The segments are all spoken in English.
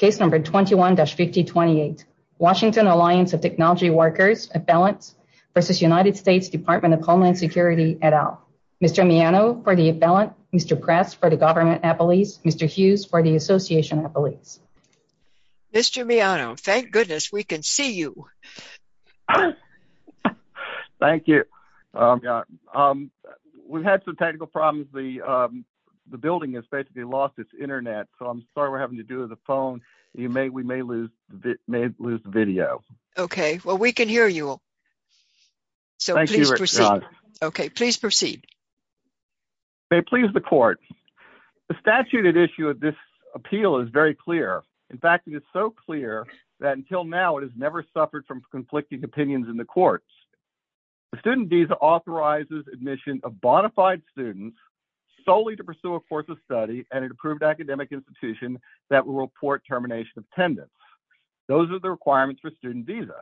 Washington Alliance of Technology Workers, Affiliates v. United States Department of Homeland Security, et al. Mr. Miano for the Affiliate, Mr. Press for the Government Affiliates, Mr. Hughes for the Association Affiliates. Mr. Miano, thank goodness we can see you. Thank you. We've had some technical problems. The building has basically lost its internet. So I'm sorry we're having to do with the phone. We may lose the video. OK, well, we can hear you. So please proceed. OK, please proceed. May it please the court. The statute at issue of this appeal is very clear. In fact, it is so clear that until now it has never suffered from conflicting opinions in the courts. The student visa authorizes admission of bona fide students solely to pursue a course of study and an approved academic institution that will report termination of attendance. Those are the requirements for student visa.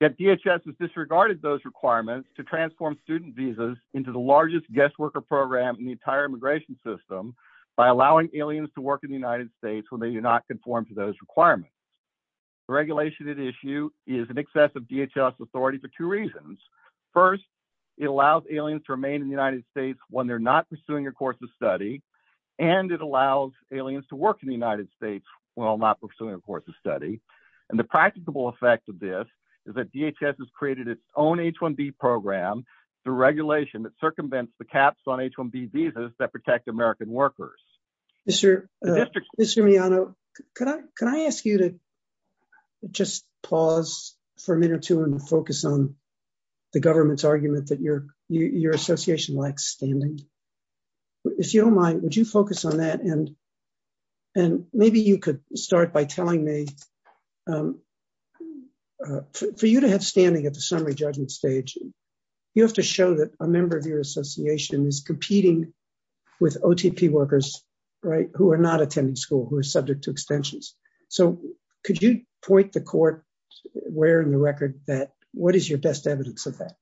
Yet DHS has disregarded those requirements to transform student visas into the largest guest worker program in the entire immigration system by allowing aliens to work in the United States when they do not conform to those requirements. The regulation at issue is an excessive DHS authority for two reasons. First, it allows aliens to remain in the United States when they're not pursuing a course of study. And it allows aliens to work in the United States while not pursuing a course of study. And the practicable effect of this is that DHS has created its own H-1B program, the regulation that circumvents the caps on H-1B visas that protect American workers. Mr. Miano, can I ask you to just pause for a minute or two and focus on the government's argument that your association lacks standing? If you don't mind, would you focus on that? And maybe you could start by telling me, for you to have standing at the summary judgment stage, you have to show that a member of your association is competing with OTP workers, right, who are not attending school, who are subject to extensions. So could you point the court where in the record that what is your best evidence of that?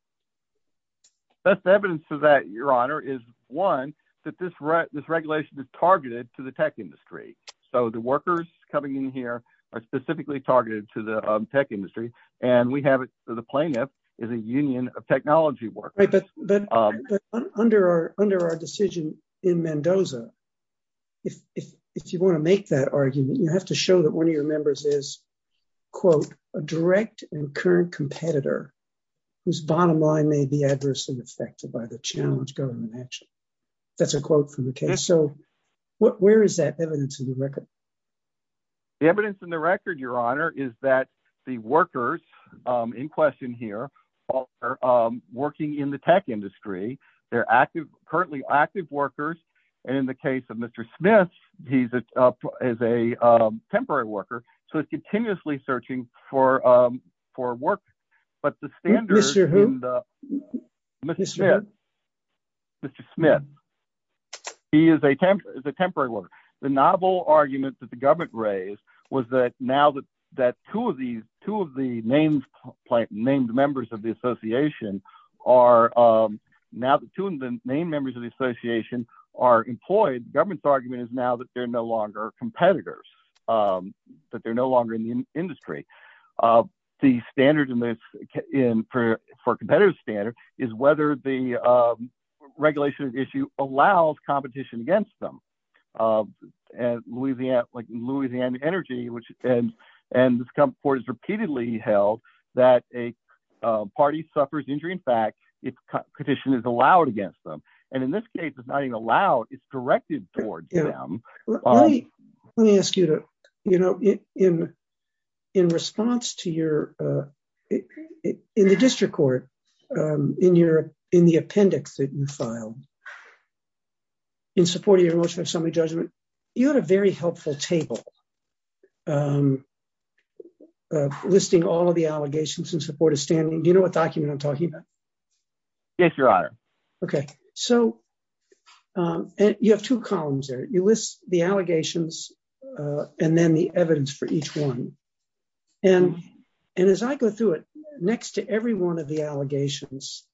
Best evidence of that, Your Honor, is one, that this regulation is targeted to the tech industry. So the workers coming in here are specifically targeted to the tech industry. And we have the plaintiff is a union of technology workers. But under our decision in Mendoza, if you want to make that argument, you have to show that one of your members is, quote, a direct and current competitor whose bottom line may be adversely affected by the challenge government action. That's a quote from the case. So where is that evidence in the record? The evidence in the record, Your Honor, is that the workers in question here are working in the tech industry. They're active, currently active workers. And in the case of Mr. Smith, he's up as a temporary worker. So it's continuously searching for for work. But the standard is Mr. Mr. Mr. Smith. He is a temporary worker. The novel argument that the government raised was that now that that two of these two of the names named members of the association are now two of the main members of the association are employed. Government's argument is now that they're no longer competitors, that they're no longer in the industry. The standard in this in for for competitive standard is whether the regulation issue allows competition against them. And Louisiana, like Louisiana Energy, which and and this report is repeatedly held that a party suffers injury. In fact, it's petition is allowed against them. And in this case, it's not even allowed. It's directed towards them. Let me ask you to, you know, in, in response to your in the district court in your in the appendix that you filed in support of your motion of summary judgment, you had a very helpful table listing all of the allegations in support of standing you know what document I'm talking about. Yes, Your Honor. Okay, so. And you have two columns there you list the allegations. And then the evidence for each one. And, and as I go through it next to every one of the allegations,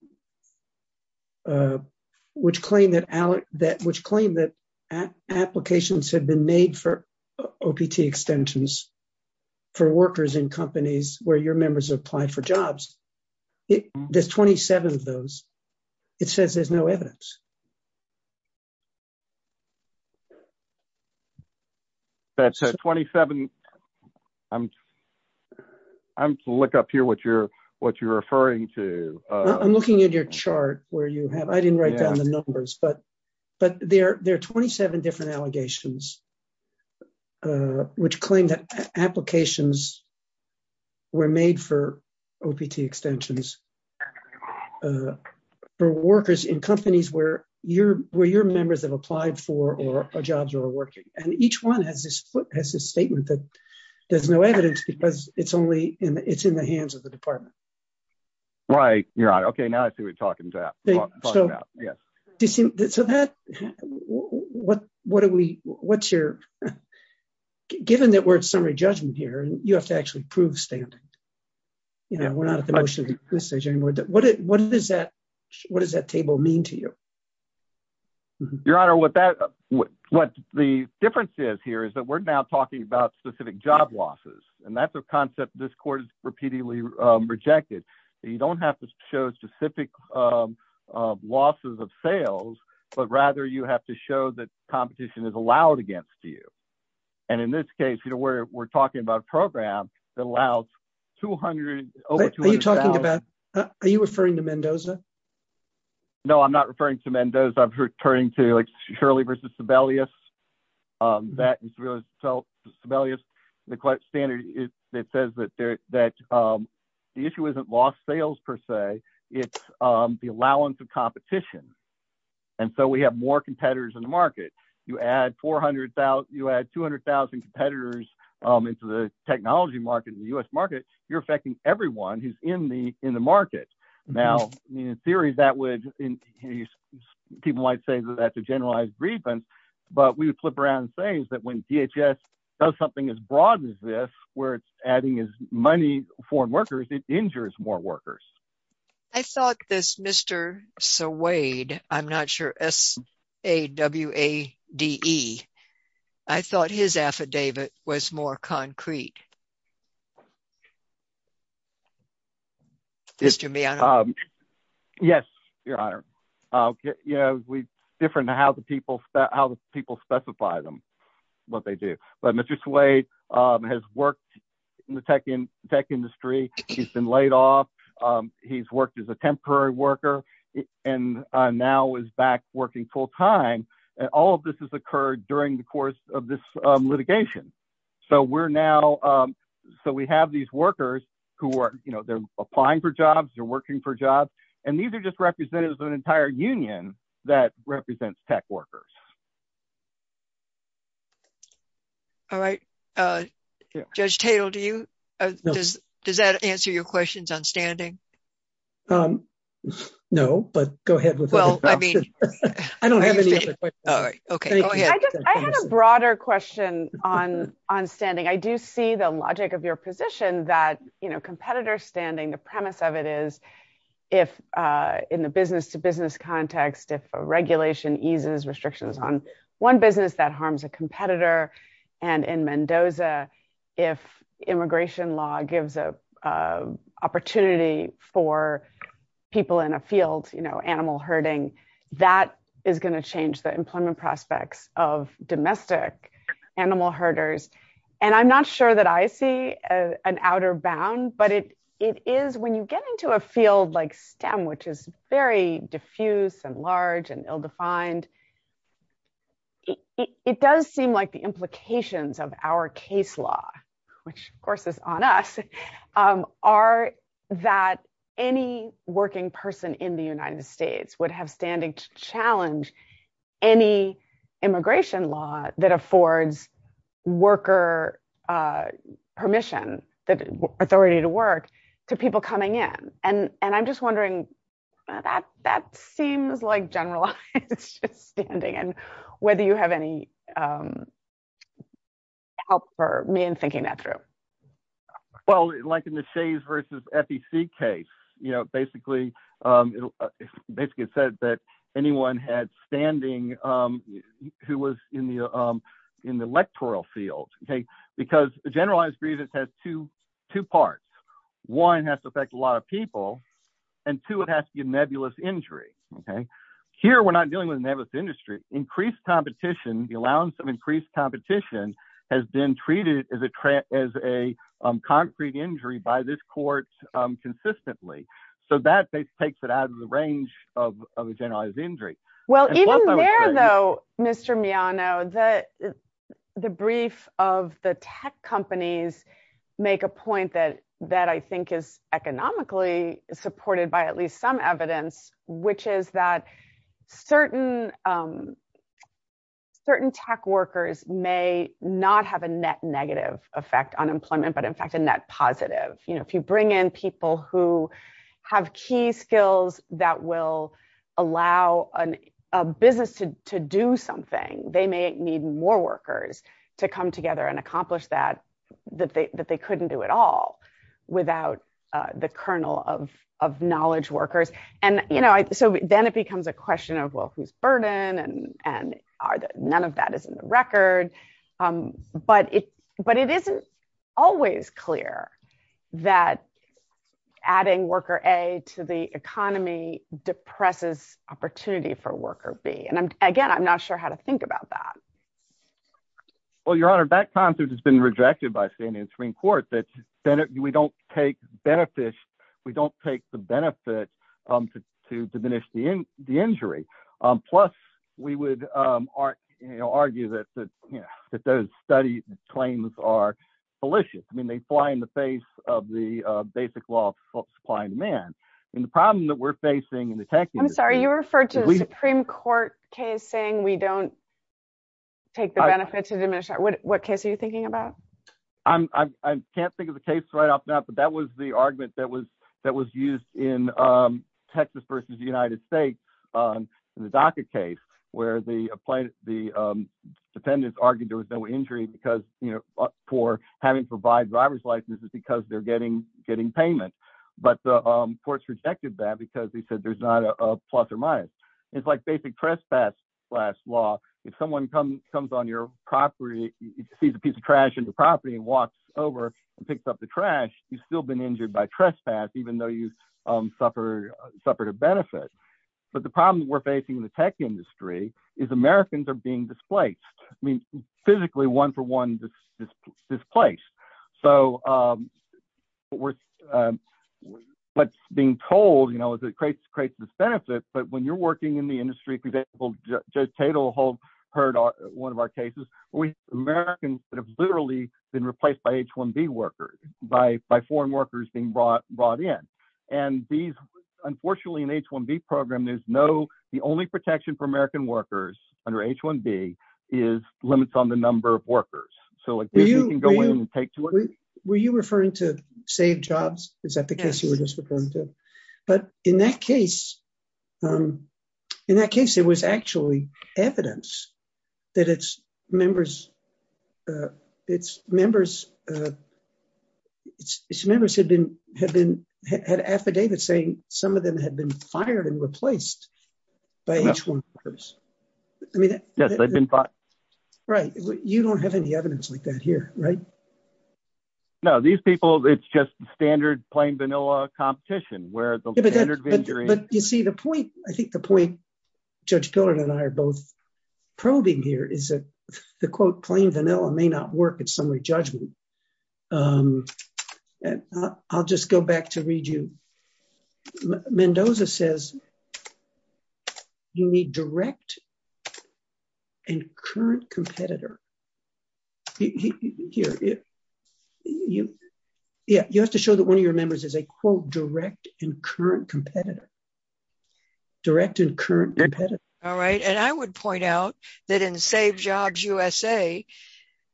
which claim that that which claim that applications have been made for opt extensions for workers in companies where your members apply for jobs. There's 27 of those. It says there's no evidence. That's a 27. I'm. I'm look up here what you're what you're referring to. I'm looking at your chart, where you have I didn't write down the numbers but but there there are 27 different allegations, which claim that applications were made for. Opt extensions for workers in companies where you're where your members have applied for or jobs are working, and each one has this foot has this statement that there's no evidence because it's only in it's in the hands of the department. Right, you're right. Okay, now I see what you're talking about. Yes. So that. What, what are we, what's your given that we're at summary judgment here and you have to actually prove standing. You know we're not at the most of the message anymore that what it what is that, what does that table mean to you, your honor what that would what the difference is here is that we're now talking about specific job losses, and that's a concept this court repeatedly rejected. You don't have to show specific losses of sales, but rather you have to show that competition is allowed against you. And in this case, you know where we're talking about program that allows 200. Are you referring to Mendoza. No, I'm not referring to Mendoza I'm returning to like surely versus rebellious that rebellious the standard is that says that that the issue isn't lost sales per se, it's the allowance of competition. And so we have more competitors in the market, you add 400,000 you add 200,000 competitors into the technology market in the US market, you're affecting everyone who's in the, in the market. Now, in theory, that would be people might say that that's a generalized grievance, but we would flip around things that when DHS does something as broad as this, where it's adding is money for workers it injures more workers. I thought this Mr. So Wade, I'm not sure as a W a de. I thought his affidavit was more concrete. This to me. Yes, Your Honor. Yeah, we different to how the people, how the people specify them, what they do, but Mr Suede has worked in the tech in tech industry, he's been laid off. He's worked as a temporary worker, and now is back working full time, and all of this has occurred during the course of this litigation. So we're now. So we have these workers who are, you know, they're applying for jobs, you're working for jobs, and these are just representatives of an entire union that represents tech workers. All right. Judge Taylor, do you. Does that answer your questions on standing. No, but go ahead with. Well, I mean, I don't have any. Okay. I had a broader question on on standing I do see the logic of your position that you know competitor standing the premise of it is, if in the business to business context if regulation eases restrictions on one business that harms a competitor, and in Mendoza. If immigration law gives a opportunity for people in a field, you know animal herding, that is going to change the employment prospects of domestic animal herders, and I'm not sure that I see an outer bound but it, it is when you get into a field like stem which is very diffuse and large and ill defined. It does seem like the implications of our case law, which of course is on us, are that any working person in the United States would have standing to challenge any immigration law that affords worker permission that authority to work to people coming in, and, and I'm just wondering whether you have any help for me and thinking that through. Well, like in the shades versus FTC case, you know, basically, basically said that anyone had standing. Who was in the, in the electoral field, okay, because the generalized grievance has to two parts. One has to affect a lot of people. And to it has to give nebulous injury. Okay, here we're not dealing with nebulous industry increased competition, the allowance of increased competition has been treated as a as a concrete injury by this court consistently. So that takes it out of the range of generalized injury. Well, even though, Mr me I know that the brief of the tech companies, make a point that that I think is economically supported by at least some evidence, which is that certain certain tech workers may not have a net negative effect on employment, but in fact a net positive, you know, if you bring in people who have key skills that will allow an a business to do something they may need more workers to come together and accomplish that, that they couldn't do it all without the kernel of of knowledge workers, and, you know, so then it becomes a question of well who's burden and, and are that none of that is in the record. But it, but it isn't always clear that adding worker a to the economy depresses opportunity for worker be and again I'm not sure how to think about that. Well, Your Honor that concept has been rejected by standing Supreme Court that Senate, we don't take benefit. We don't take the benefit to to diminish the in the injury. Plus, we would argue that that, you know, that those studies claims are malicious I mean they fly in the face of the basic law of supply and demand. And the problem that we're facing in the tech, I'm sorry you referred to the Supreme Court case saying we don't take the benefit to diminish that what what case are you thinking about. I'm, I can't think of the case right off now but that was the argument that was that was used in Texas versus United States. The DACA case, where the plaintiff, the defendants argued there was no injury because, you know, for having provide driver's licenses because they're getting getting payment, but the courts rejected that because he said there's not a plus or minus. It's like basic trespass last law, if someone comes comes on your property sees a piece of trash into property and walks over and picks up the trash, you still been injured by trespass even though you suffer, suffer to benefit. But the problem we're facing the tech industry is Americans are being displaced. I mean, physically one for one, this place. So, what's being told you know is it creates creates this benefit but when you're working in the industry for example, just title hold heard on one of our cases, we Americans that have literally been replaced by H1B workers by by foreign workers being brought brought in. And these, unfortunately in H1B program there's no, the only protection for American workers under H1B is limits on the number of workers, so like you can go in and take to it. Were you referring to save jobs, is that the case you were just referring to. But in that case. In that case it was actually evidence that it's members. It's members. It's members have been have been had affidavit saying some of them had been fired and replaced by each one. I mean, they've been bought. Right. You don't have any evidence like that here, right. No, these people. It's just standard plain vanilla competition where You see the point, I think the point, Judge Pilgrim and I are both probing here is that the quote plain vanilla may not work in summary judgment. And I'll just go back to read you. Mendoza says you need direct and current competitor. Here. Yeah, you have to show that one of your members is a quote direct and current competitor. Direct and current competitor. All right. And I would point out that in save jobs USA.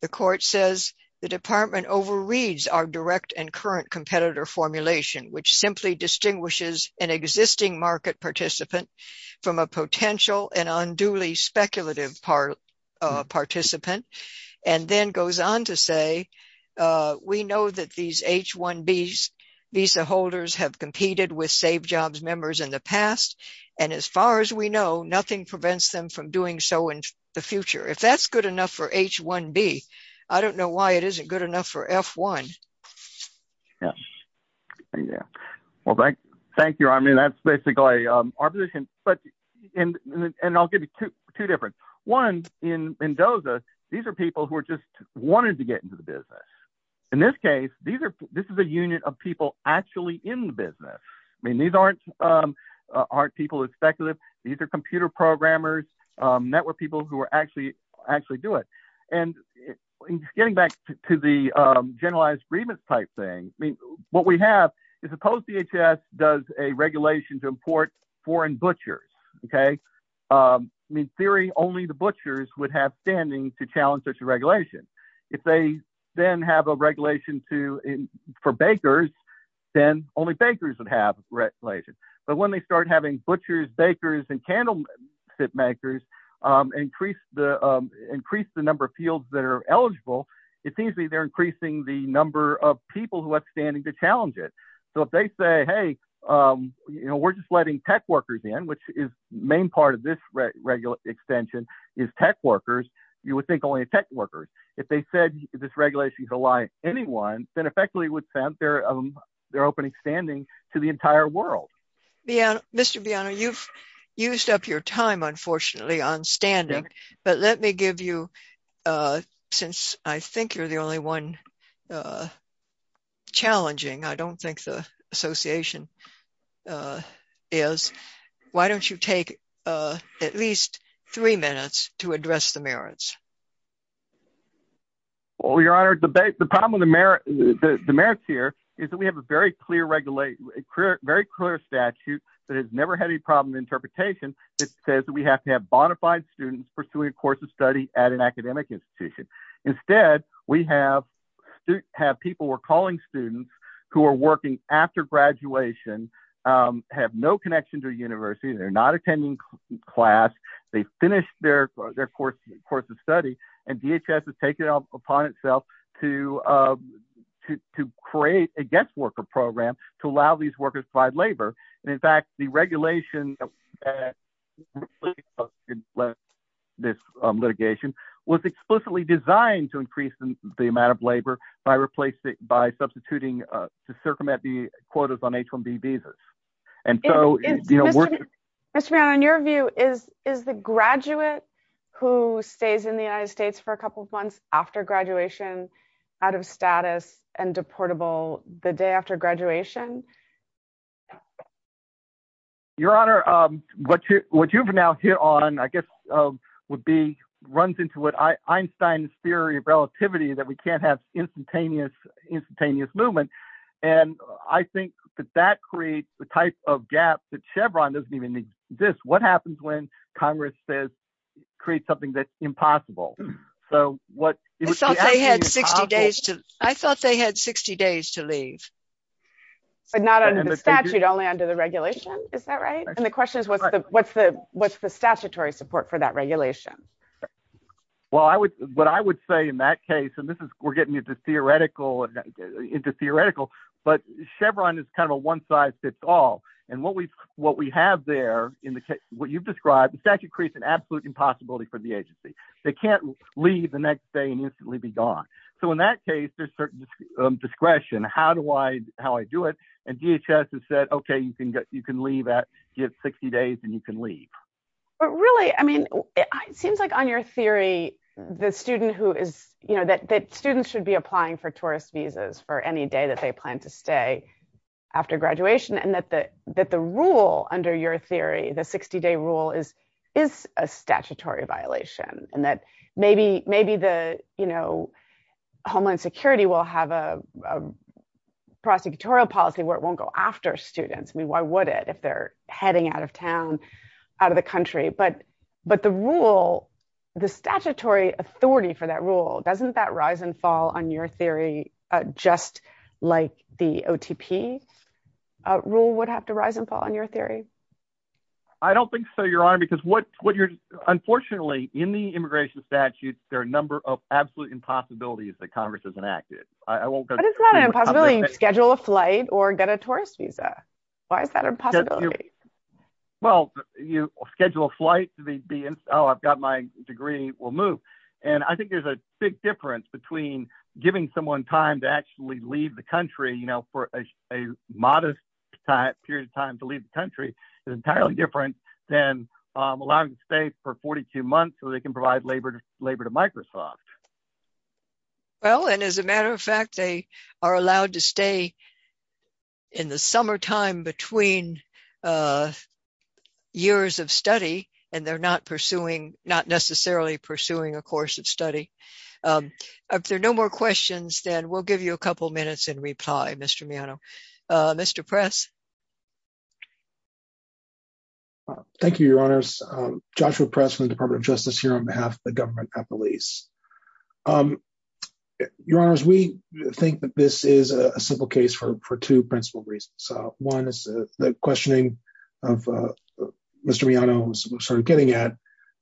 The court says the department over reads our direct and current competitor formulation which simply distinguishes an existing market participant from a potential and unduly speculative part of participant and then goes on to say We know that these H1B visa holders have competed with save jobs members in the past. And as far as we know, nothing prevents them from doing so in the future. If that's good enough for H1B. I don't know why it isn't good enough for F1. Yeah. Well, thank you. I mean, that's basically our position, but and and I'll give you two different ones in Mendoza. These are people who are just wanting to get into the business. In this case, these are, this is a union of people actually in the business. I mean, these aren't Aren't people is speculative. These are computer programmers network people who are actually actually do it and getting back to the generalized grievance type thing. I mean, what we have is a post DHS does a regulation to import foreign butchers. Okay. In theory, only the butchers would have standing to challenge such a regulation. If they then have a regulation to in for bakers. Then only bakers would have regulations, but when they start having butchers bakers and candle makers increase the increase the number of fields that are eligible. It seems to me they're increasing the number of people who have standing to challenge it. So if they say, hey, You know, we're just letting tech workers in which is main part of this regular extension is tech workers, you would think only tech workers if they said this regulation to lie. Anyone said effectively would sound fair. They're opening standing to the entire world. Yeah, Mr. Biano you've used up your time, unfortunately, on standing, but let me give you Since I think you're the only one Challenging. I don't think the Association. Is why don't you take at least three minutes to address the merits. Well, your honor debate. The problem. The merit. The merits here is that we have a very clear regulate very clear statute that has never had any problem interpretation. It says that we have to have bonafide students pursuing a course of study at an academic institution. Instead, we have To have people were calling students who are working after graduation have no connection to university. They're not attending class they finished their, their course course of study and DHS has taken up upon itself to To create a guest worker program to allow these workers provide labor. And in fact, the regulation. This litigation was explicitly designed to increase the amount of labor by replacing by substituting to circumvent the quotas on H1B visas and Mr. Biano, in your view is is the graduate who stays in the United States for a couple of months after graduation out of status and deportable the day after graduation. Your honor, but what you've now hit on, I guess, would be runs into what I Einstein's theory of relativity, that we can't have instantaneous instantaneous movement. And I think that that creates the type of gap that Chevron doesn't even exist. What happens when Congress says create something that's impossible. So what They had 60 days to I thought they had 60 days to leave. Not under the statute only under the regulation. Is that right. And the question is, what's the what's the what's the statutory support for that regulation. Well, I would what I would say in that case, and this is we're getting into theoretical But Chevron is kind of a one size fits all. And what we what we have there in the case what you've described the statute creates an absolute impossibility for the agency. They can't leave the next day and instantly be gone. So in that case, there's certain discretion. How do I, how I do it and DHS has said, okay, you can get you can leave at give 60 days and you can leave But really, I mean, it seems like on your theory, the student who is you know that that students should be applying for tourist visas for any day that they plan to stay After graduation and that the that the rule under your theory, the 60 day rule is is a statutory violation and that maybe, maybe the, you know, Homeland Security will have a But, but the rule, the statutory authority for that rule doesn't that rise and fall on your theory, just like the OTP rule would have to rise and fall on your theory. I don't think so, Your Honor, because what what you're, unfortunately, in the immigration statute, there are a number of absolute impossibilities that Congress has enacted, I won't go It's not an impossibility to schedule a flight or get a tourist visa. Why is that a possibility. Well, you schedule a flight to be in. Oh, I've got my degree will move. And I think there's a big difference between giving someone time to actually leave the country, you know, for a modest Period of time to leave the country is entirely different than allowing to stay for 42 months so they can provide labor to labor to Microsoft Well, and as a matter of fact, they are allowed to stay In the summertime between Years of study and they're not pursuing not necessarily pursuing a course of study. If there are no more questions, then we'll give you a couple minutes and reply. Mr. Miano, Mr. Press. Thank you, Your Honors Joshua press from the Department of Justice here on behalf of the government police Your Honors, we think that this is a simple case for for two principal reasons. So one is the questioning of Mr. Miano sort of getting at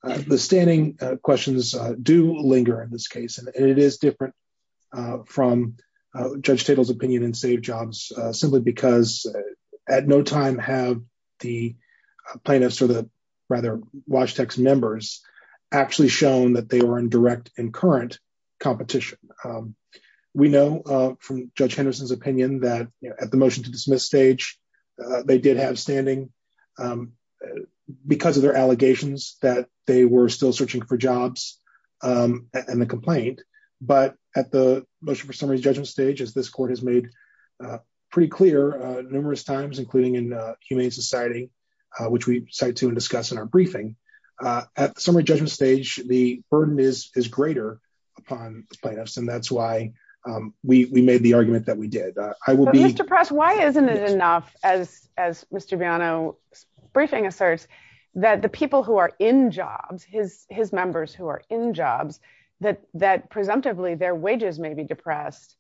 The standing questions do linger in this case, and it is different from judge tables opinion and save jobs, simply because at no time have the plaintiffs or the rather watch text members actually shown that they were in direct and current competition. We know from Judge Henderson's opinion that at the motion to dismiss stage they did have standing Because of their allegations that they were still searching for jobs and the complaint, but at the motion for summary judgment stage is this court has made Pretty clear numerous times, including in Humane Society, which we cite to and discuss in our briefing at summary judgment stage, the burden is is greater upon us. And that's why we made the argument that we did. I will be depressed. Why isn't it enough as as Mr. Miano briefing asserts that the people who are in jobs, his, his members who are in jobs that that presumptively their wages may be depressed.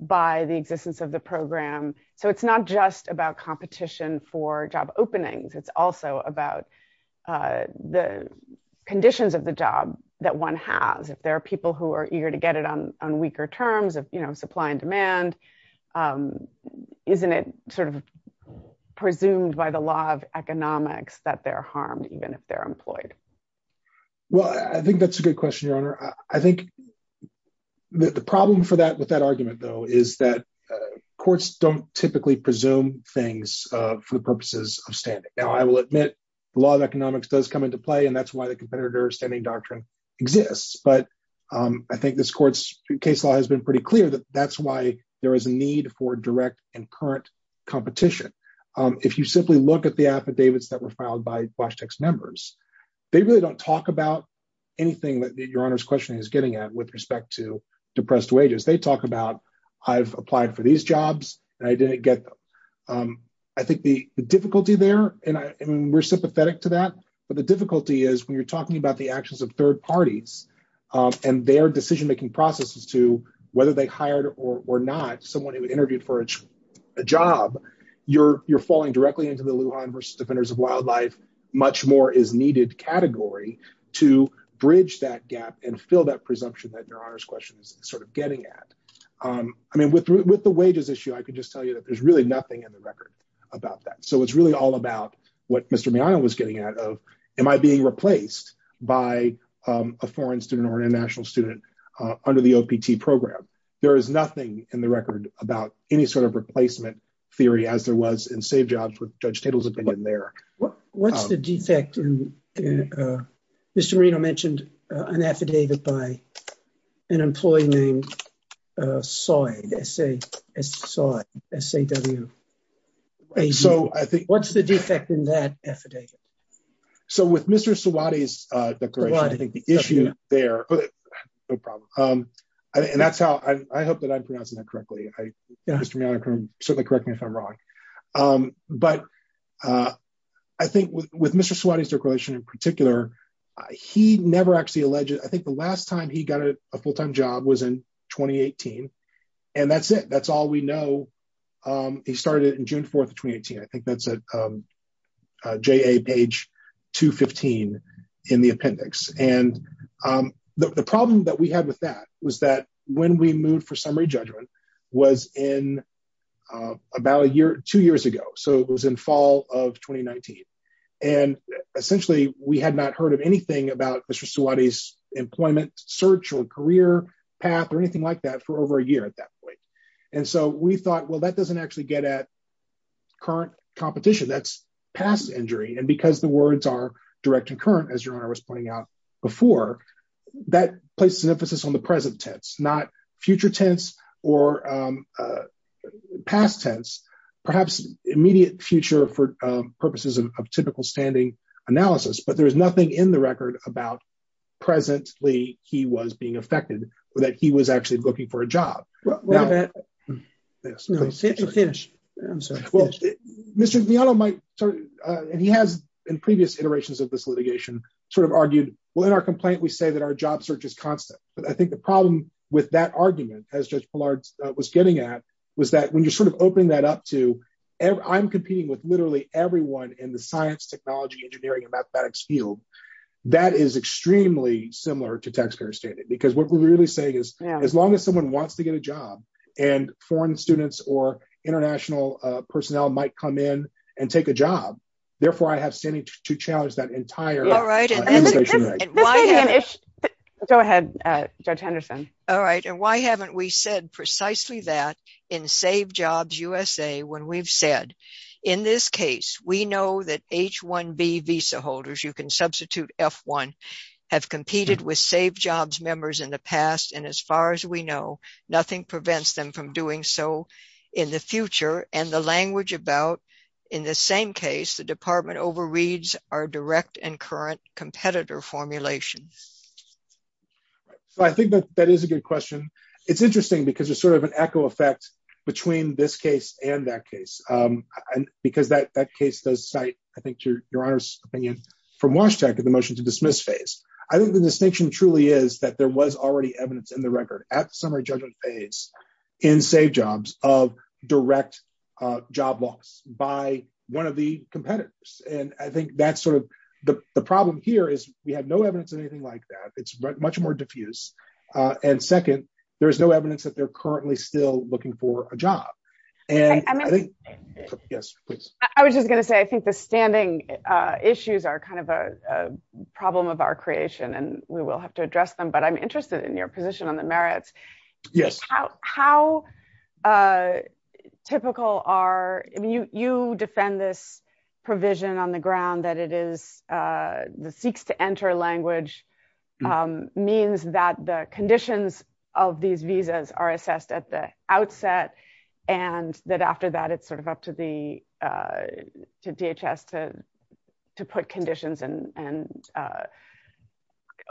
By the existence of the program. So it's not just about competition for job openings. It's also about The conditions of the job that one has, if there are people who are eager to get it on on weaker terms of, you know, supply and demand. Isn't it sort of presumed by the law of economics that they're harmed, even if they're employed. Well, I think that's a good question. Your Honor, I think The problem for that with that argument, though, is that courts don't typically presume things for the purposes of standing. Now I will admit The law of economics does come into play. And that's why the competitor standing doctrine exists, but I think this court's case law has been pretty clear that that's why there is a need for direct and current competition. If you simply look at the affidavits that were filed by flash text numbers. They really don't talk about anything that your honor's question is getting at with respect to depressed wages. They talk about I've applied for these jobs and I didn't get I think the difficulty there and I mean we're sympathetic to that. But the difficulty is when you're talking about the actions of third parties. And their decision making processes to whether they hired or not someone who interviewed for a job. You're, you're falling directly into the Luhan versus defenders of wildlife much more is needed category to bridge that gap and fill that presumption that your honor's question is sort of getting at I mean, with with the wages issue. I can just tell you that there's really nothing in the record about that. So it's really all about what Mr me. I was getting out of. Am I being replaced by A foreign student or international student under the OPT program. There is nothing in the record about any sort of replacement theory as there was in save jobs with judge tables have been in there. What, what's the defect. Mr Reno mentioned an affidavit by an employee name. So I say, so I say, so I think what's the defect in that affidavit. So with Mr so what is the issue there. No problem. And that's how I hope that I'm pronouncing that correctly. So the correct me if I'm wrong. But I think with with Mr swatting circulation in particular. He never actually alleged I think the last time he got a full time job was in 2018. And that's it. That's all we know. He started in June 4 2018 I think that's a J a page to 15 in the appendix, and the problem that we had with that was that when we moved for summary judgment was in about a year, two years ago so it was in fall of 2019. And essentially, we had not heard of anything about Mr so what is employment search or career path or anything like that for over a year at that point. And so we thought well that doesn't actually get at current competition that's past injury and because the words are direct and current as your honor was pointing out before that places an emphasis on the present tense not future tense or past tense, perhaps, perhaps immediate future for purposes of typical standing analysis but there's nothing in the record about presently, he was being affected with that he was actually looking for a job. Yes, finish. Well, Mr. Viano might, and he has in previous iterations of this litigation, sort of argued, well in our complaint we say that our job search is constant, but I think the problem with that argument has just blurred was getting at was that when you're sort of opening that up to ever I'm competing with literally everyone in the science, technology, engineering and mathematics field. That is extremely similar to taxpayer standing because what we're really saying is, as long as someone wants to get a job and foreign students or international personnel might come in and take a job. Therefore, I have standing to challenge that entire right go ahead. Judge Henderson. All right. And why haven't we said precisely that in save jobs USA when we've said, in this case, we know that h1 visa holders you can substitute f1 have competed with save jobs members in the past and as far as we know, nothing prevents them from doing so. In the future, and the language about in the same case the department overreads are direct and current competitor formulation. I think that that is a good question. It's interesting because it's sort of an echo effect between this case, and that case. And because that that case does site, I think to your honor's opinion from Washington to the motion to dismiss phase. I think the distinction truly is that there was already evidence in the record at the summary judgment phase in save jobs of direct job box by one of the competitors and I think that's sort of the problem here is, we have no evidence of anything like that it's much more diffuse. And second, there's no evidence that they're currently still looking for a job. And I think, yes, please. I was just gonna say I think the standing issues are kind of a problem of our creation and we will have to address them but I'm interested in your position on the merits. Yes, how typical are you defend this provision on the ground that it is the seeks to enter language means that the conditions of these visas are assessed at the outset, and that after that it's sort of up to the DHS to to put conditions and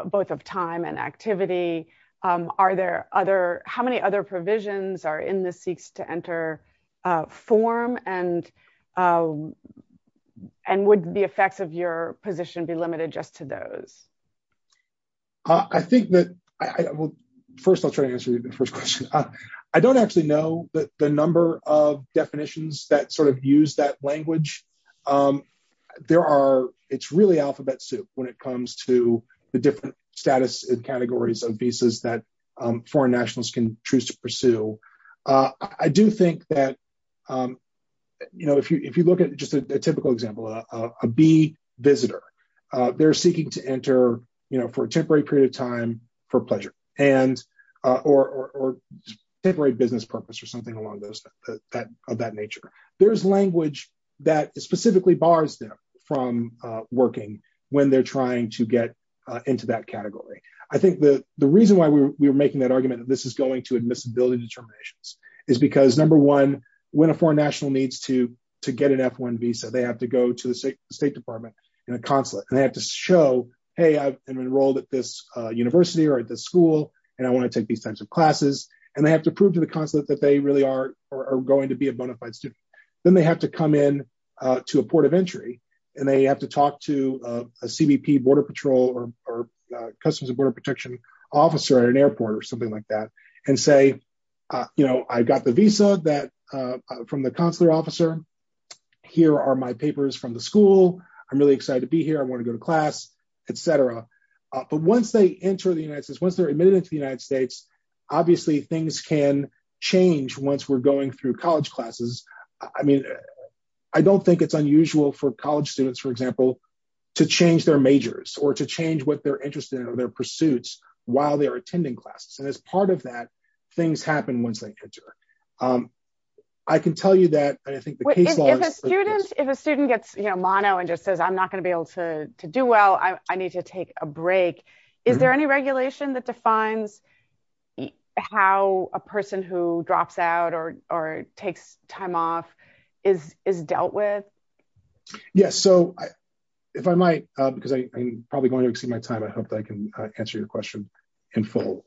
both of time and activity. Are there other how many other provisions are in the seeks to enter form and and would the effects of your position be limited just to those. I think that I will first I'll try to answer the first question. I don't actually know that the number of definitions that sort of use that language. There are, it's really alphabet soup, when it comes to the different status and categories of visas that foreign nationals can choose to pursue. I do think that, you know, if you if you look at just a typical example of a be visitor. They're seeking to enter, you know, for a temporary period of time for pleasure and or temporary business purpose or something along those that of that nature, there's language that specifically bars them from working when they're trying to get into that category. I think the, the reason why we're making that argument that this is going to admissibility determinations is because number one, when a foreign national needs to to get an F1 visa, they have to go to the State Department in a consulate and they have to show, hey I've enrolled at this university or at the school, and I want to take these types of classes, and they have to prove to the consulate that they really are going to be a bona fide student, then they have to come in to a port of entry, and they have to talk to a CBP Border Patrol or Customs and Border Protection officer at an airport or something like that, and say, you know, I got the visa that from the consular officer. Here are my papers from the school. I'm really excited to be here I want to go to class, etc. But once they enter the United States once they're admitted into the United States. Obviously things can change once we're going through college classes. I mean, I don't think it's unusual for college students for example, to change their majors or to change what they're interested in or their pursuits, while they're attending classes and as part of that, things happen once they enter. I can tell you that I think the students, if a student gets you know mono and just says I'm not going to be able to do well I need to take a break. Is there any regulation that defines how a person who drops out or, or takes time off is is dealt with. Yes, so I, if I might, because I probably going to exceed my time I hope I can answer your question in full.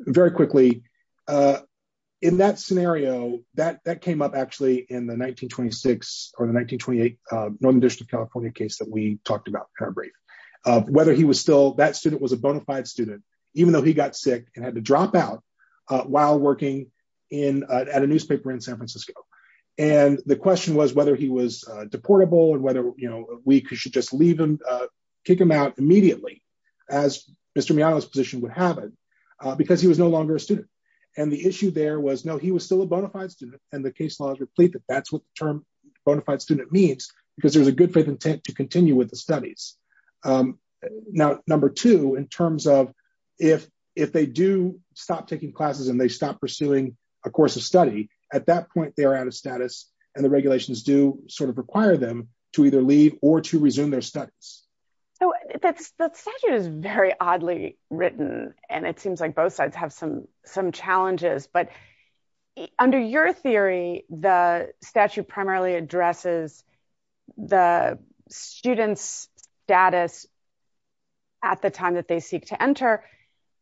Very quickly, in that scenario that that came up actually in the 1926 or the 1928 Northern District California case that we talked about her brain, whether he was still that student was a bona fide student, even though he got sick and had to drop out. While working in at a newspaper in San Francisco. And the question was whether he was deportable and whether, you know, we should just leave him. Kick him out immediately, as Mr me I was position would have it because he was no longer a student. And the issue there was no he was still a bona fide student, and the case laws replete that that's what the term bona fide student means because there's a good faith intent to continue with the studies. Now, number two in terms of if, if they do stop taking classes and they stop pursuing a course of study. At that point they are out of status, and the regulations do sort of require them to either leave or to resume their studies. So, that's that's that is very oddly written, and it seems like both sides have some some challenges but under your theory, the statute primarily addresses the students status. At the time that they seek to enter.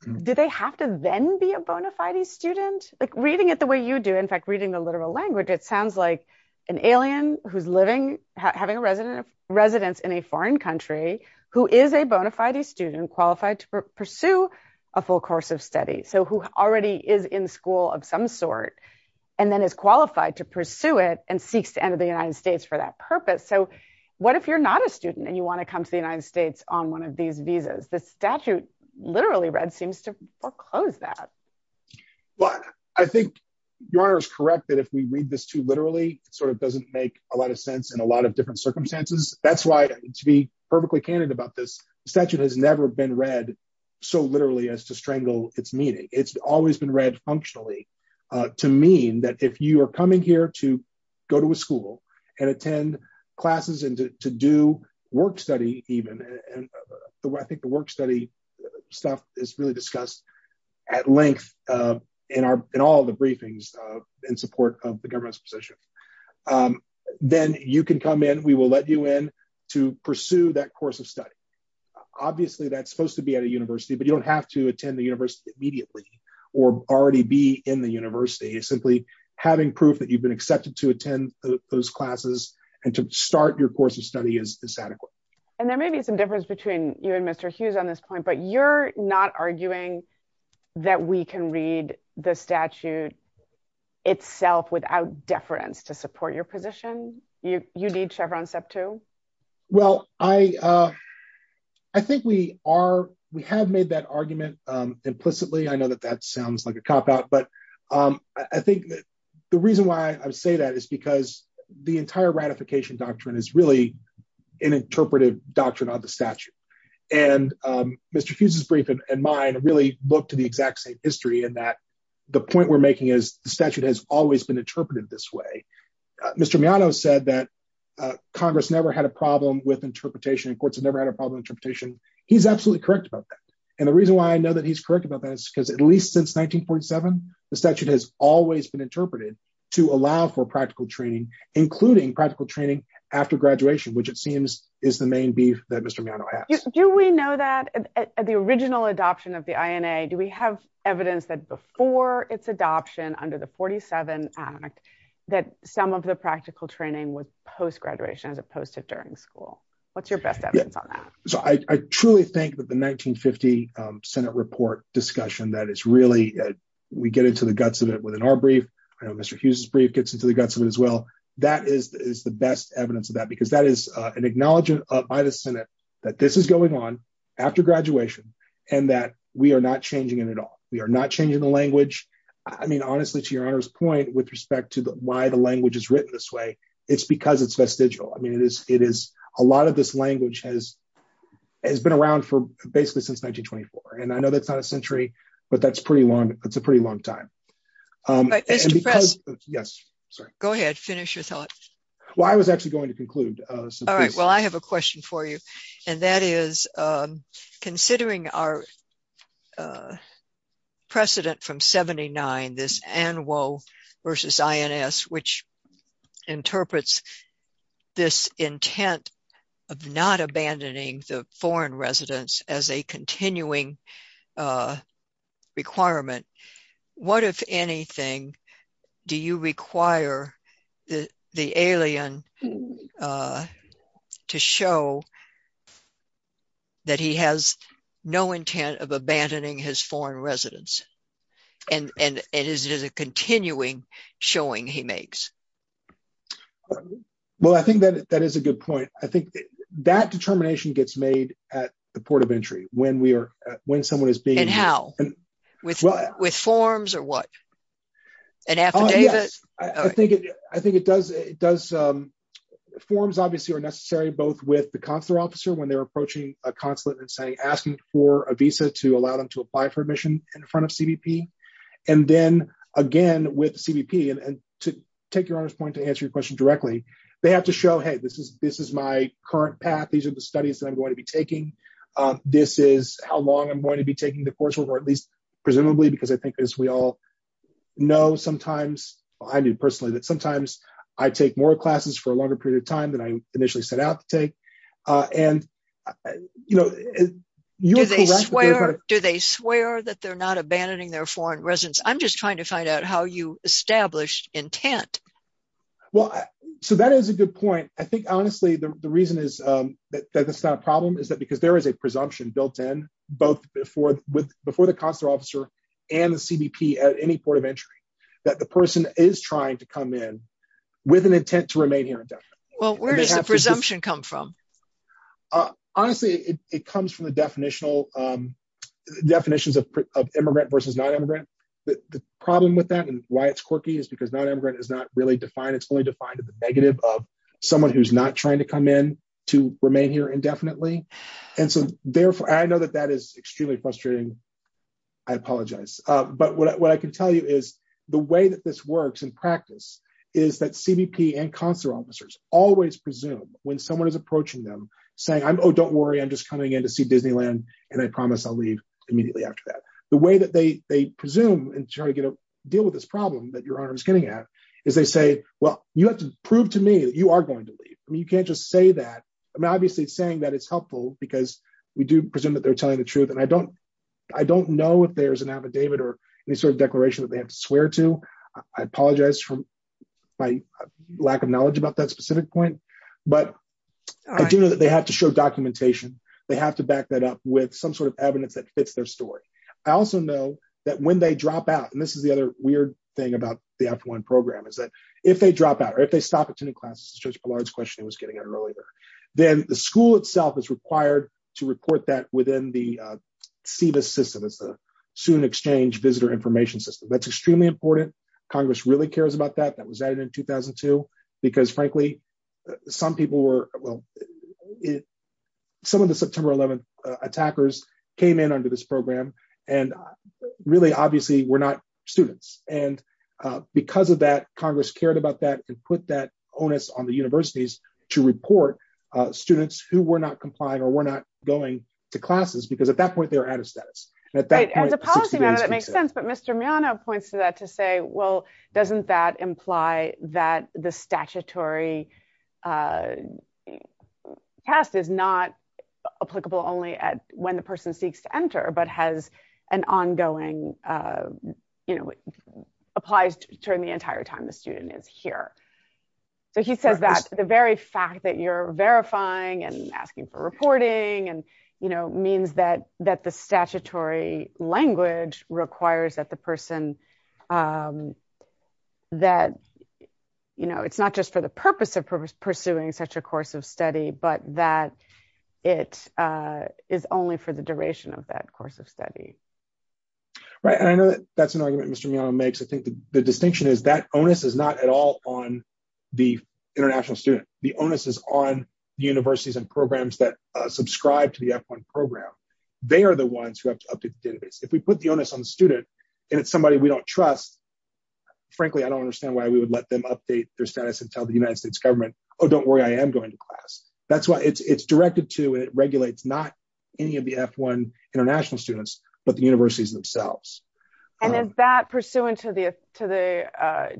Did they have to then be a bona fide student, like reading it the way you do in fact reading the literal language it sounds like an alien, who's living, having a resident of residents in a foreign country, who is a bona fide student qualified to pursue a full course of study so who already is in school of some sort, and then is qualified to pursue it and seeks to enter the United States for that purpose. So, what if you're not a student and you want to come to the United States on one of these visas the statute, literally read seems to foreclose that. But I think your is correct that if we read this to literally sort of doesn't make a lot of sense and a lot of different circumstances, that's why, to be perfectly candid about this statute has never been read. So literally as to strangle its meaning, it's always been read functionally to mean that if you are coming here to go to a school and attend classes and to do work study, even the way I think the work study stuff is really discussed at length in our, in all the briefings in support of the government's position. Then you can come in, we will let you in to pursue that course of study. Obviously that's supposed to be at a university but you don't have to attend the university immediately, or already be in the university is simply having proof that you've been accepted to attend those classes and to start your course of study is this adequate. And there may be some difference between you and Mr. Hughes on this point but you're not arguing that we can read the statute itself without deference to support your position, you need Chevron step two. Well, I, I think we are, we have made that argument. Implicitly I know that that sounds like a cop out but I think the reason why I say that is because the entire ratification doctrine is really an interpretive doctrine of the statute. And Mr. Hughes's brief and mine really look to the exact same history and that the point we're making is the statute has always been interpreted this way. Mr. Miano said that Congress never had a problem with interpretation courts and never had a problem interpretation. He's absolutely correct about that. And the reason why I know that he's correct about this because at least since 1947, the statute has always been interpreted to allow for practical training, including practical training after graduation which it seems is the main beef that Mr. Do we know that the original adoption of the INA do we have evidence that before its adoption under the 47, that some of the practical training with post graduation as opposed to during school. What's your best evidence on that. So I truly think that the 1950 Senate report discussion that is really, we get into the guts of it within our brief, Mr Hughes's brief gets into the guts of it as well. That is the best evidence of that because that is an acknowledgement by the Senate, that this is going on after graduation, and that we are not changing it at all. We are not changing the language. I mean honestly to your point with respect to the why the language is written this way. It's because it's vestigial I mean it is, it is a lot of this language has has been around for basically since 1924 and I know that's not a century, but that's pretty long, it's a pretty long time. Yes, sir. Go ahead, finish your thoughts. Well, I was actually going to conclude. All right, well I have a question for you. And that is, considering our precedent from 79 this annual versus ins which interprets this intent of not abandoning the foreign residents as a continuing requirement. What if anything, do you require the alien to show that he has no intent of abandoning his foreign residents, and it is a continuing showing he makes. Well, I think that that is a good point. I think that determination gets made at the port of entry, when we are when someone is being and how and with with forms or what an affidavit. I think it does, it does. Forms obviously are necessary both with the consular officer when they're approaching a consulate and saying asking for a visa to allow them to apply for admission in front of CBP. And then again with CBP and to take your point to answer your question directly. They have to show hey this is this is my current path these are the studies that I'm going to be taking. This is how long I'm going to be taking the coursework or at least presumably because I think as we all know, sometimes, I mean personally that sometimes I take more classes for a longer period of time that I initially set out to take. And, you know, do they swear that they're not abandoning their foreign residents, I'm just trying to find out how you established intent. Well, so that is a good point. I think honestly the reason is that that's not a problem is that because there is a presumption built in, both before with before the consular officer and the CBP at any port of entry, that the person is trying to come in with an intent to remain here. Well, where does the presumption come from. Honestly, it comes from the definitional definitions of immigrant versus non immigrant. The problem with that and why it's quirky is because non immigrant is not really defined it's only defined as a negative of someone who's not trying to come in to remain here indefinitely. And so, therefore, I know that that is extremely frustrating. I apologize. But what I can tell you is the way that this works in practice is that CBP and consular officers always presume when someone is approaching them, saying I'm oh don't worry I'm just coming in to see Disneyland, and I promise I'll leave immediately after that, the way that they, they presume and try to get a deal with this problem that your honor is getting at is they say, well, you have to prove to me that you are going to leave, I mean you can't just say that. I'm obviously saying that it's helpful because we do presume that they're telling the truth and I don't, I don't know if there's an affidavit or any sort of declaration that they have to swear to. I apologize for my lack of knowledge about that specific point, but I do know that they have to show documentation, they have to back that up with some sort of evidence that fits their story. I also know that when they drop out and this is the other weird thing about the after one program is that if they drop out or if they stop attending classes just a large question it was getting earlier, then the school itself is required to report that within the CBA system is the student exchange visitor information system that's extremely important. Congress really cares about that that was added in 2002, because frankly, some people were well. Some of the September 11 attackers came in under this program, and really obviously we're not students, and because of that, Congress cared about that and put that onus on the universities to report students who were not complying or we're not going to classes So the request is not applicable only at when the person seeks to enter but has an ongoing, you know, applies during the entire time the student is here. So he says that the very fact that you're verifying and asking for reporting and, you know, means that that the statutory language requires that the person that, you know, it's not just for the purpose of purpose pursuing such a course of study, but that it is only for the duration of that course of study. Right, and I know that that's an argument Mr. makes I think the distinction is that onus is not at all on the international student, the onus is on universities and programs that subscribe to the F1 program. They are the ones who have to update the database, if we put the onus on the student, and it's somebody we don't trust. Frankly, I don't understand why we would let them update their status and tell the United States government. Oh, don't worry, I am going to class. That's why it's directed to it regulates not any of the F1 international students, but the universities themselves. And is that pursuant to the to the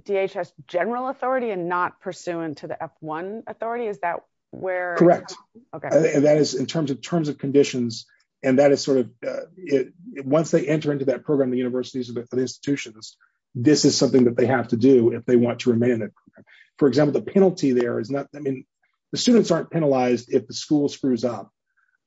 DHS general authority and not pursuant to the F1 authority is that where? Correct. And that is in terms of terms of conditions. And that is sort of it. Once they enter into that program the universities and institutions. This is something that they have to do if they want to remain. For example, the penalty there is not, I mean, the students aren't penalized if the school screws up,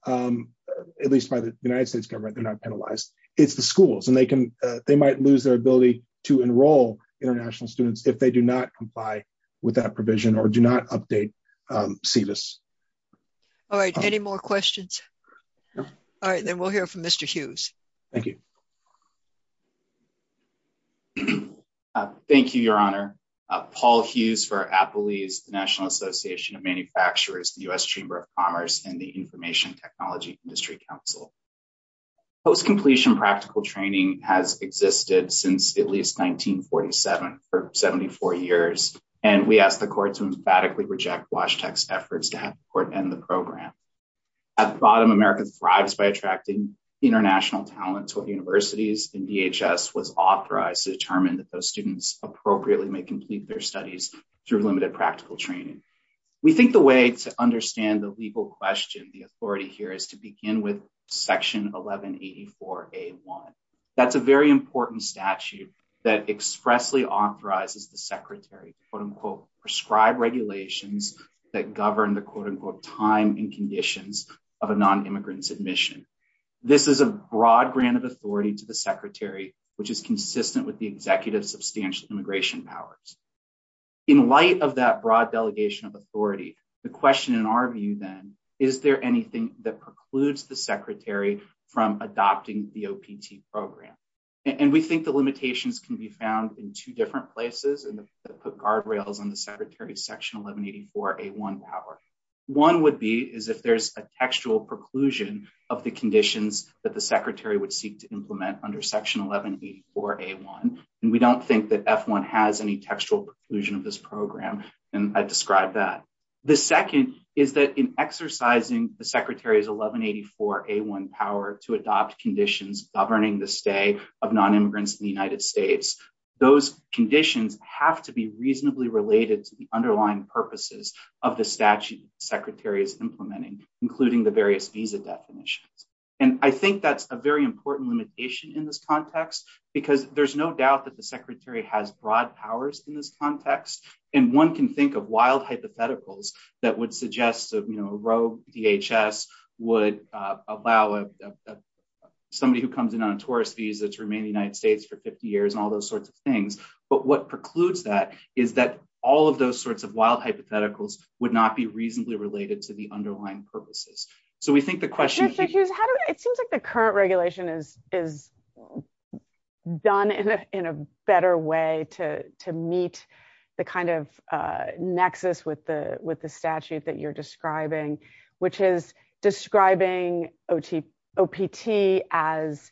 at least by the United States government they're not penalized, it's the schools and they can, they might lose their ability to enroll international students if they do not comply with that provision or do not update see this. All right, any more questions. All right, then we'll hear from Mr Hughes. Thank you. Thank you, Your Honor. Paul Hughes for Apple he's the National Association of manufacturers, the US Chamber of Commerce and the Information Technology Industry Council post completion practical training has existed since at least 1947 for 74 years, and we asked the court to emphatically reject watch text efforts to have court and the program. At the bottom America thrives by attracting international talent to universities and DHS was authorized to determine that those students appropriately may complete their studies through limited practical training. We think the way to understand the legal question the authority here is to begin with section 1184 a one. That's a very important statute that expressly authorizes the secretary, quote unquote prescribed regulations that govern the quote unquote time and conditions of a non immigrants admission. This is a broad grant of authority to the secretary, which is consistent with the executive substantial immigration powers. In light of that broad delegation of authority. The question in our view, then, is there anything that precludes the secretary from adopting the OPT program. And we think the limitations can be found in two different places and put guardrails on the secretary section 1184 a one power. One would be is if there's a textual preclusion of the conditions that the secretary would seek to implement under section 1184 a one, and we don't think that f1 has any textual conclusion of this program, and I described that. The second is that in exercising the secretary's 1184 a one power to adopt conditions governing the stay of non immigrants in the United States. Those conditions have to be reasonably related to the underlying purposes of the statute secretary is implementing, including the various visa definitions. And I think that's a very important limitation in this context, because there's no doubt that the secretary has broad powers in this context, and one can think of wild hypotheticals, that would suggest that you know row DHS would allow somebody who comes in on So we think the question is, how do it seems like the current regulation is, is done in a, in a better way to meet the kind of nexus with the, with the statute that you're describing, which is describing ot opt as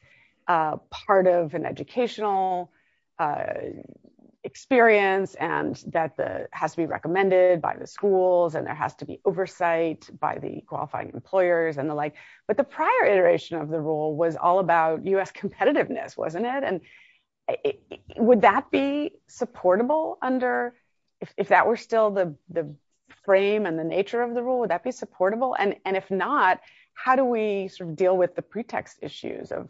part of an educational experience and that the has to be recommended by the schools and there has to be oversight by the qualifying employers and the like, but the prior iteration of the rule was all about us competitiveness wasn't it and would that be supportable under, if that were still the frame and the nature of the rule would that be supportable and and if not, how do we deal with the pretext issues of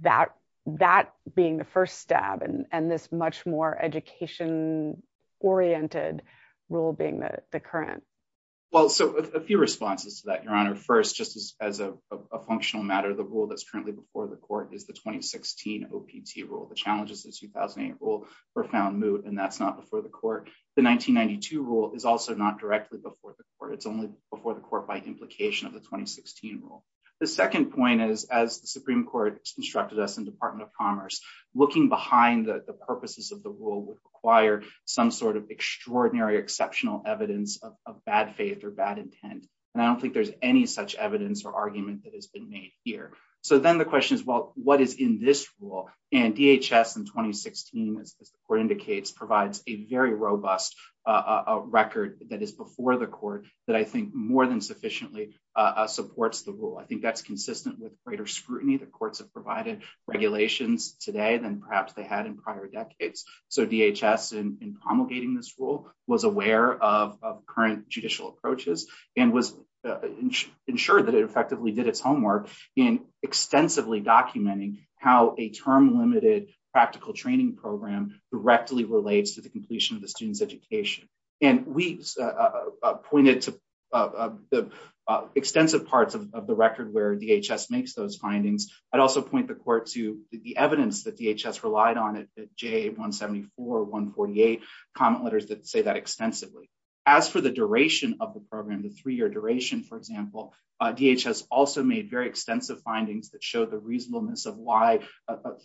that, that being the first step and this much more education oriented rule being the current. Well, so a few responses to that your honor first just as a functional matter the rule that's currently before the court is the 2016 OPT rule the challenges is 2008 rule profound mood and that's not before the court. The 1992 rule is also not directly before the court it's only before the court by implication of the 2016 rule. The second point is, as the Supreme Court instructed us in Department of Commerce, looking behind the purposes of the rule would require some sort of extraordinary exceptional evidence of bad faith or bad intent. And I don't think there's any such evidence or argument that has been made here. So then the question is, well, what is in this rule and DHS and 2016 as the court indicates provides a very robust record that is before the court that I think more than sufficiently supports the rule I think that's consistent with greater scrutiny the courts have provided regulations today than perhaps they had in prior decades. So DHS and promulgating this rule was aware of current judicial approaches and was ensured that it effectively did its homework in extensively documenting how a term I'd also point the court to the evidence that DHS relied on it, Jay 174 148 comment letters that say that extensively, as for the duration of the program the three year duration for example, DHS also made very extensive findings that show the reasonableness of why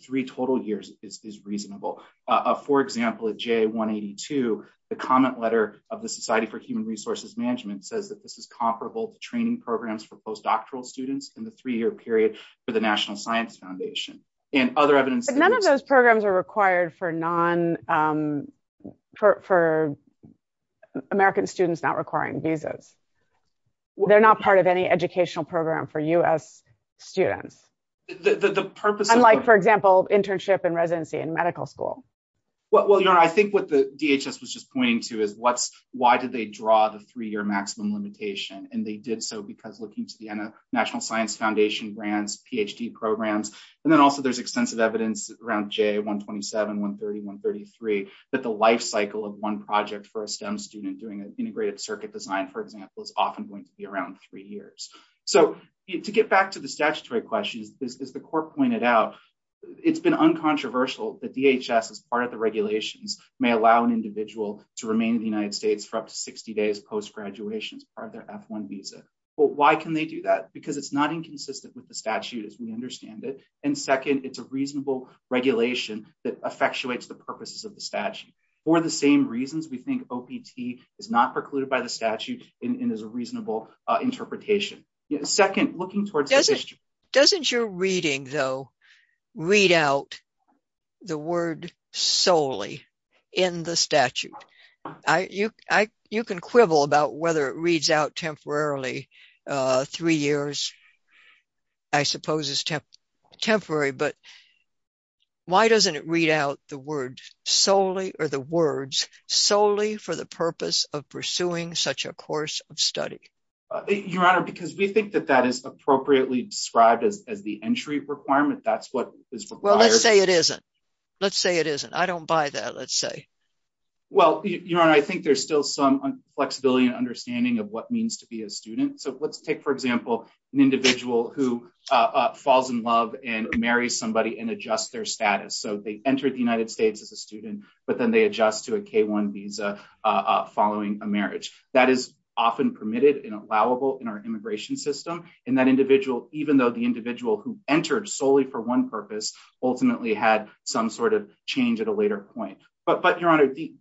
three total years is reasonable. For example, at J 182, the comment letter of the Society for Human Resources Management says that this is comparable to training programs for postdoctoral students in the three year period for the National Science Foundation, and other evidence none of those programs are required for non for American students not requiring visas. They're not part of any educational program for us, students, the purpose unlike for example, internship and residency in medical school. Well, you know, I think what the DHS was just pointing to is what's, why did they draw the three year maximum limitation and they did so because looking to the National Science Foundation brands PhD programs. And then also there's extensive evidence around J 127 130 133 that the lifecycle of one project for a STEM student doing an integrated circuit design for example is often going to be around three years. So, to get back to the statutory questions, as the court pointed out, it's been uncontroversial that DHS as part of the regulations may allow an individual to remain in the United States for up to 60 days post graduation as part of their F1 visa. Well, why can they do that because it's not inconsistent with the statute as we understand it. And second, it's a reasonable regulation that effectuates the purposes of the statute, or the same reasons we think opt is not precluded by the statute in as a reasonable interpretation. Second, looking towards doesn't doesn't your reading though read out the word solely in the statute. I you, I, you can quibble about whether it reads out temporarily. Three years. I suppose is temp temporary but why doesn't it read out the word solely, or the words solely for the purpose of pursuing such a course of study. Your Honor, because we think that that is appropriately described as the entry requirement that's what is required to say it isn't. Let's say it isn't I don't buy that let's say, well, you know, I think there's still some flexibility and understanding of what means to be a student so let's take for example, an individual who falls in love and marry somebody and adjust their status so they entered the United States as a student, but then they adjust to a K one visa. Following a marriage that is often permitted and allowable in our immigration system, and that individual, even though the individual who entered solely for one purpose, ultimately had some sort of change at a later point, but but your honor the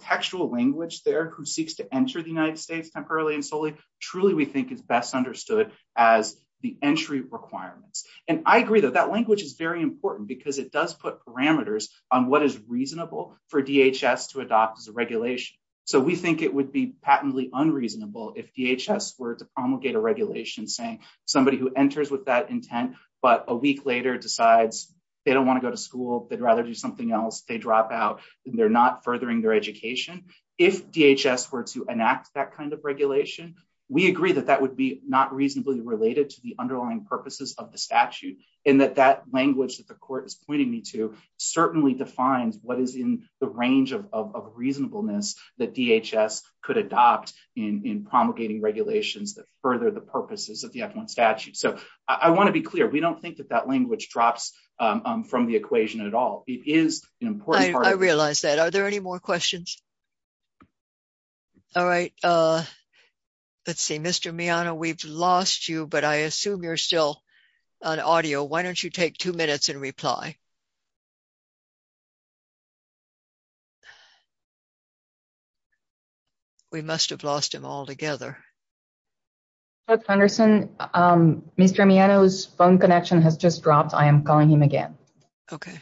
textual language there who seeks to enter the United States temporarily and solely truly we think is best understood as the entry requirements, and I agree that that language is very important because it does put parameters on what is reasonable for DHS to adopt as a regulation. So we think it would be patently unreasonable if DHS were to promulgate a regulation saying somebody who enters with that intent, but a week later decides they don't want to go to school, they'd rather do something else they drop out, they're not furthering their education. If DHS were to enact that kind of regulation. We agree that that would be not reasonably related to the underlying purposes of the statute, and that that language that the court is pointing me to certainly defines what is in the range of reasonableness that DHS could adopt in promulgating regulations that further the purposes of the F1 statute so I want to be clear, we don't think that that language drops from the equation at all. It is important. I realize that. Are there any more questions. All right. Let's see Mr me on a we've lost you but I assume you're still on audio Why don't you take two minutes and reply. We must have lost him all together. Henderson. Mr me on his phone connection has just dropped I am calling him again. Okay.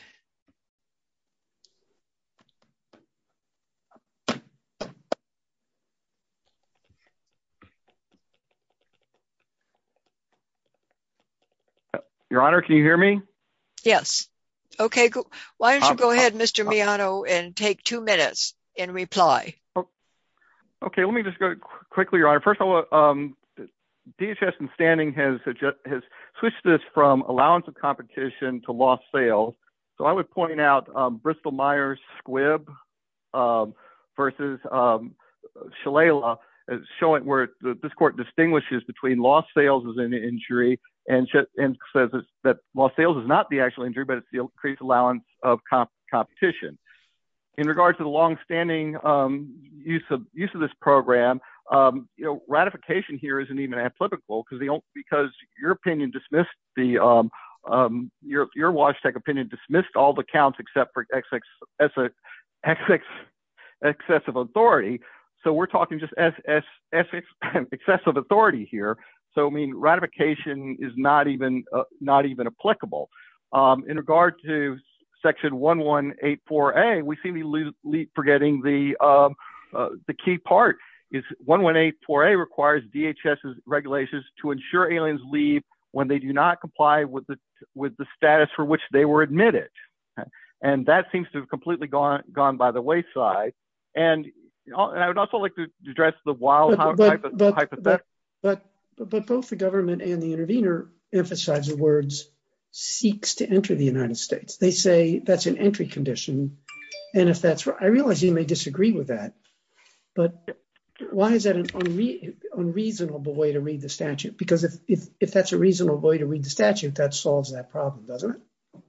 Your Honor, can you hear me. Yes. Okay. Why don't you go ahead Mr me on oh and take two minutes and reply. Okay, let me just go quickly right first of all, DHS and standing has just has switched this from allowance of competition to loss sales. So I would point out Bristol Myers squib versus Shalala is showing where this court distinguishes between injury and says that while sales is not the actual injury but it's the increased allowance of competition in regards to the long standing use of use of this program, you know ratification here isn't even applicable because they don't because your opinion dismissed the Your, your Washington opinion dismissed all the counts except for x x x x x excessive authority. So we're talking just as as as an excessive authority here. So I mean ratification is not even not even applicable. In regard to section 1184 a we seem to lose lead forgetting the, the key part is 1184 a requires DHS regulations to ensure aliens leave when they do not comply with the, with the status for which they were admitted. And that seems to have completely gone, gone by the wayside. And I would also like to address the wild. But both the government and the intervener emphasize the words seeks to enter the United States, they say that's an entry condition. And if that's what I realize you may disagree with that. But why is that an unreasonable way to read the statute, because if if if that's a reasonable way to read the statute that solves that problem, doesn't it.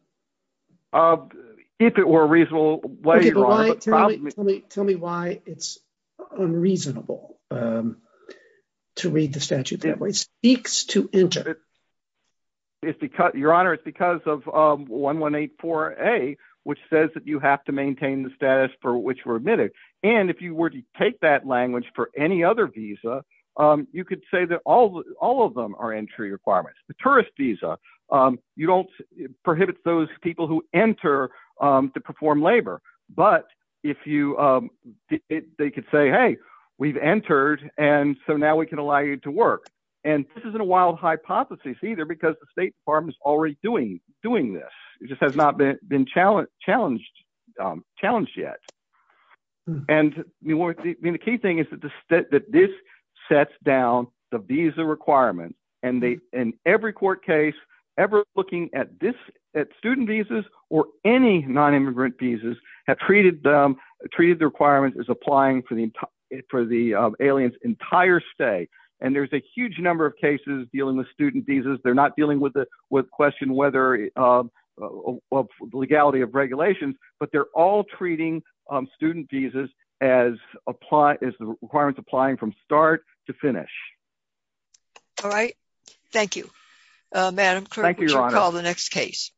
If it were reasonable. Tell me, tell me why it's unreasonable. To read the statute that way speaks to enter Your Honor, it's because of 1184 a which says that you have to maintain the status for which were admitted. And if you were to take that language for any other visa. You could say that all all of them are entry requirements, the tourist visa, you don't prohibit those people who enter to perform labor, but if you They could say, hey, we've entered. And so now we can allow you to work. And this isn't a wild hypothesis either because the State Department is already doing doing this. It just has not been been challenged challenged challenged yet. And the key thing is that the state that this sets down the visa requirement and they in every court case ever looking at this at student visas or any non immigrant visas have treated them. Treated the requirements is applying for the for the aliens entire stay and there's a huge number of cases dealing with student visas. They're not dealing with the with question whether Legality of regulations, but they're all treating student visas as a plot is the requirements applying from start to finish. All right. Thank you, madam. Call the next case.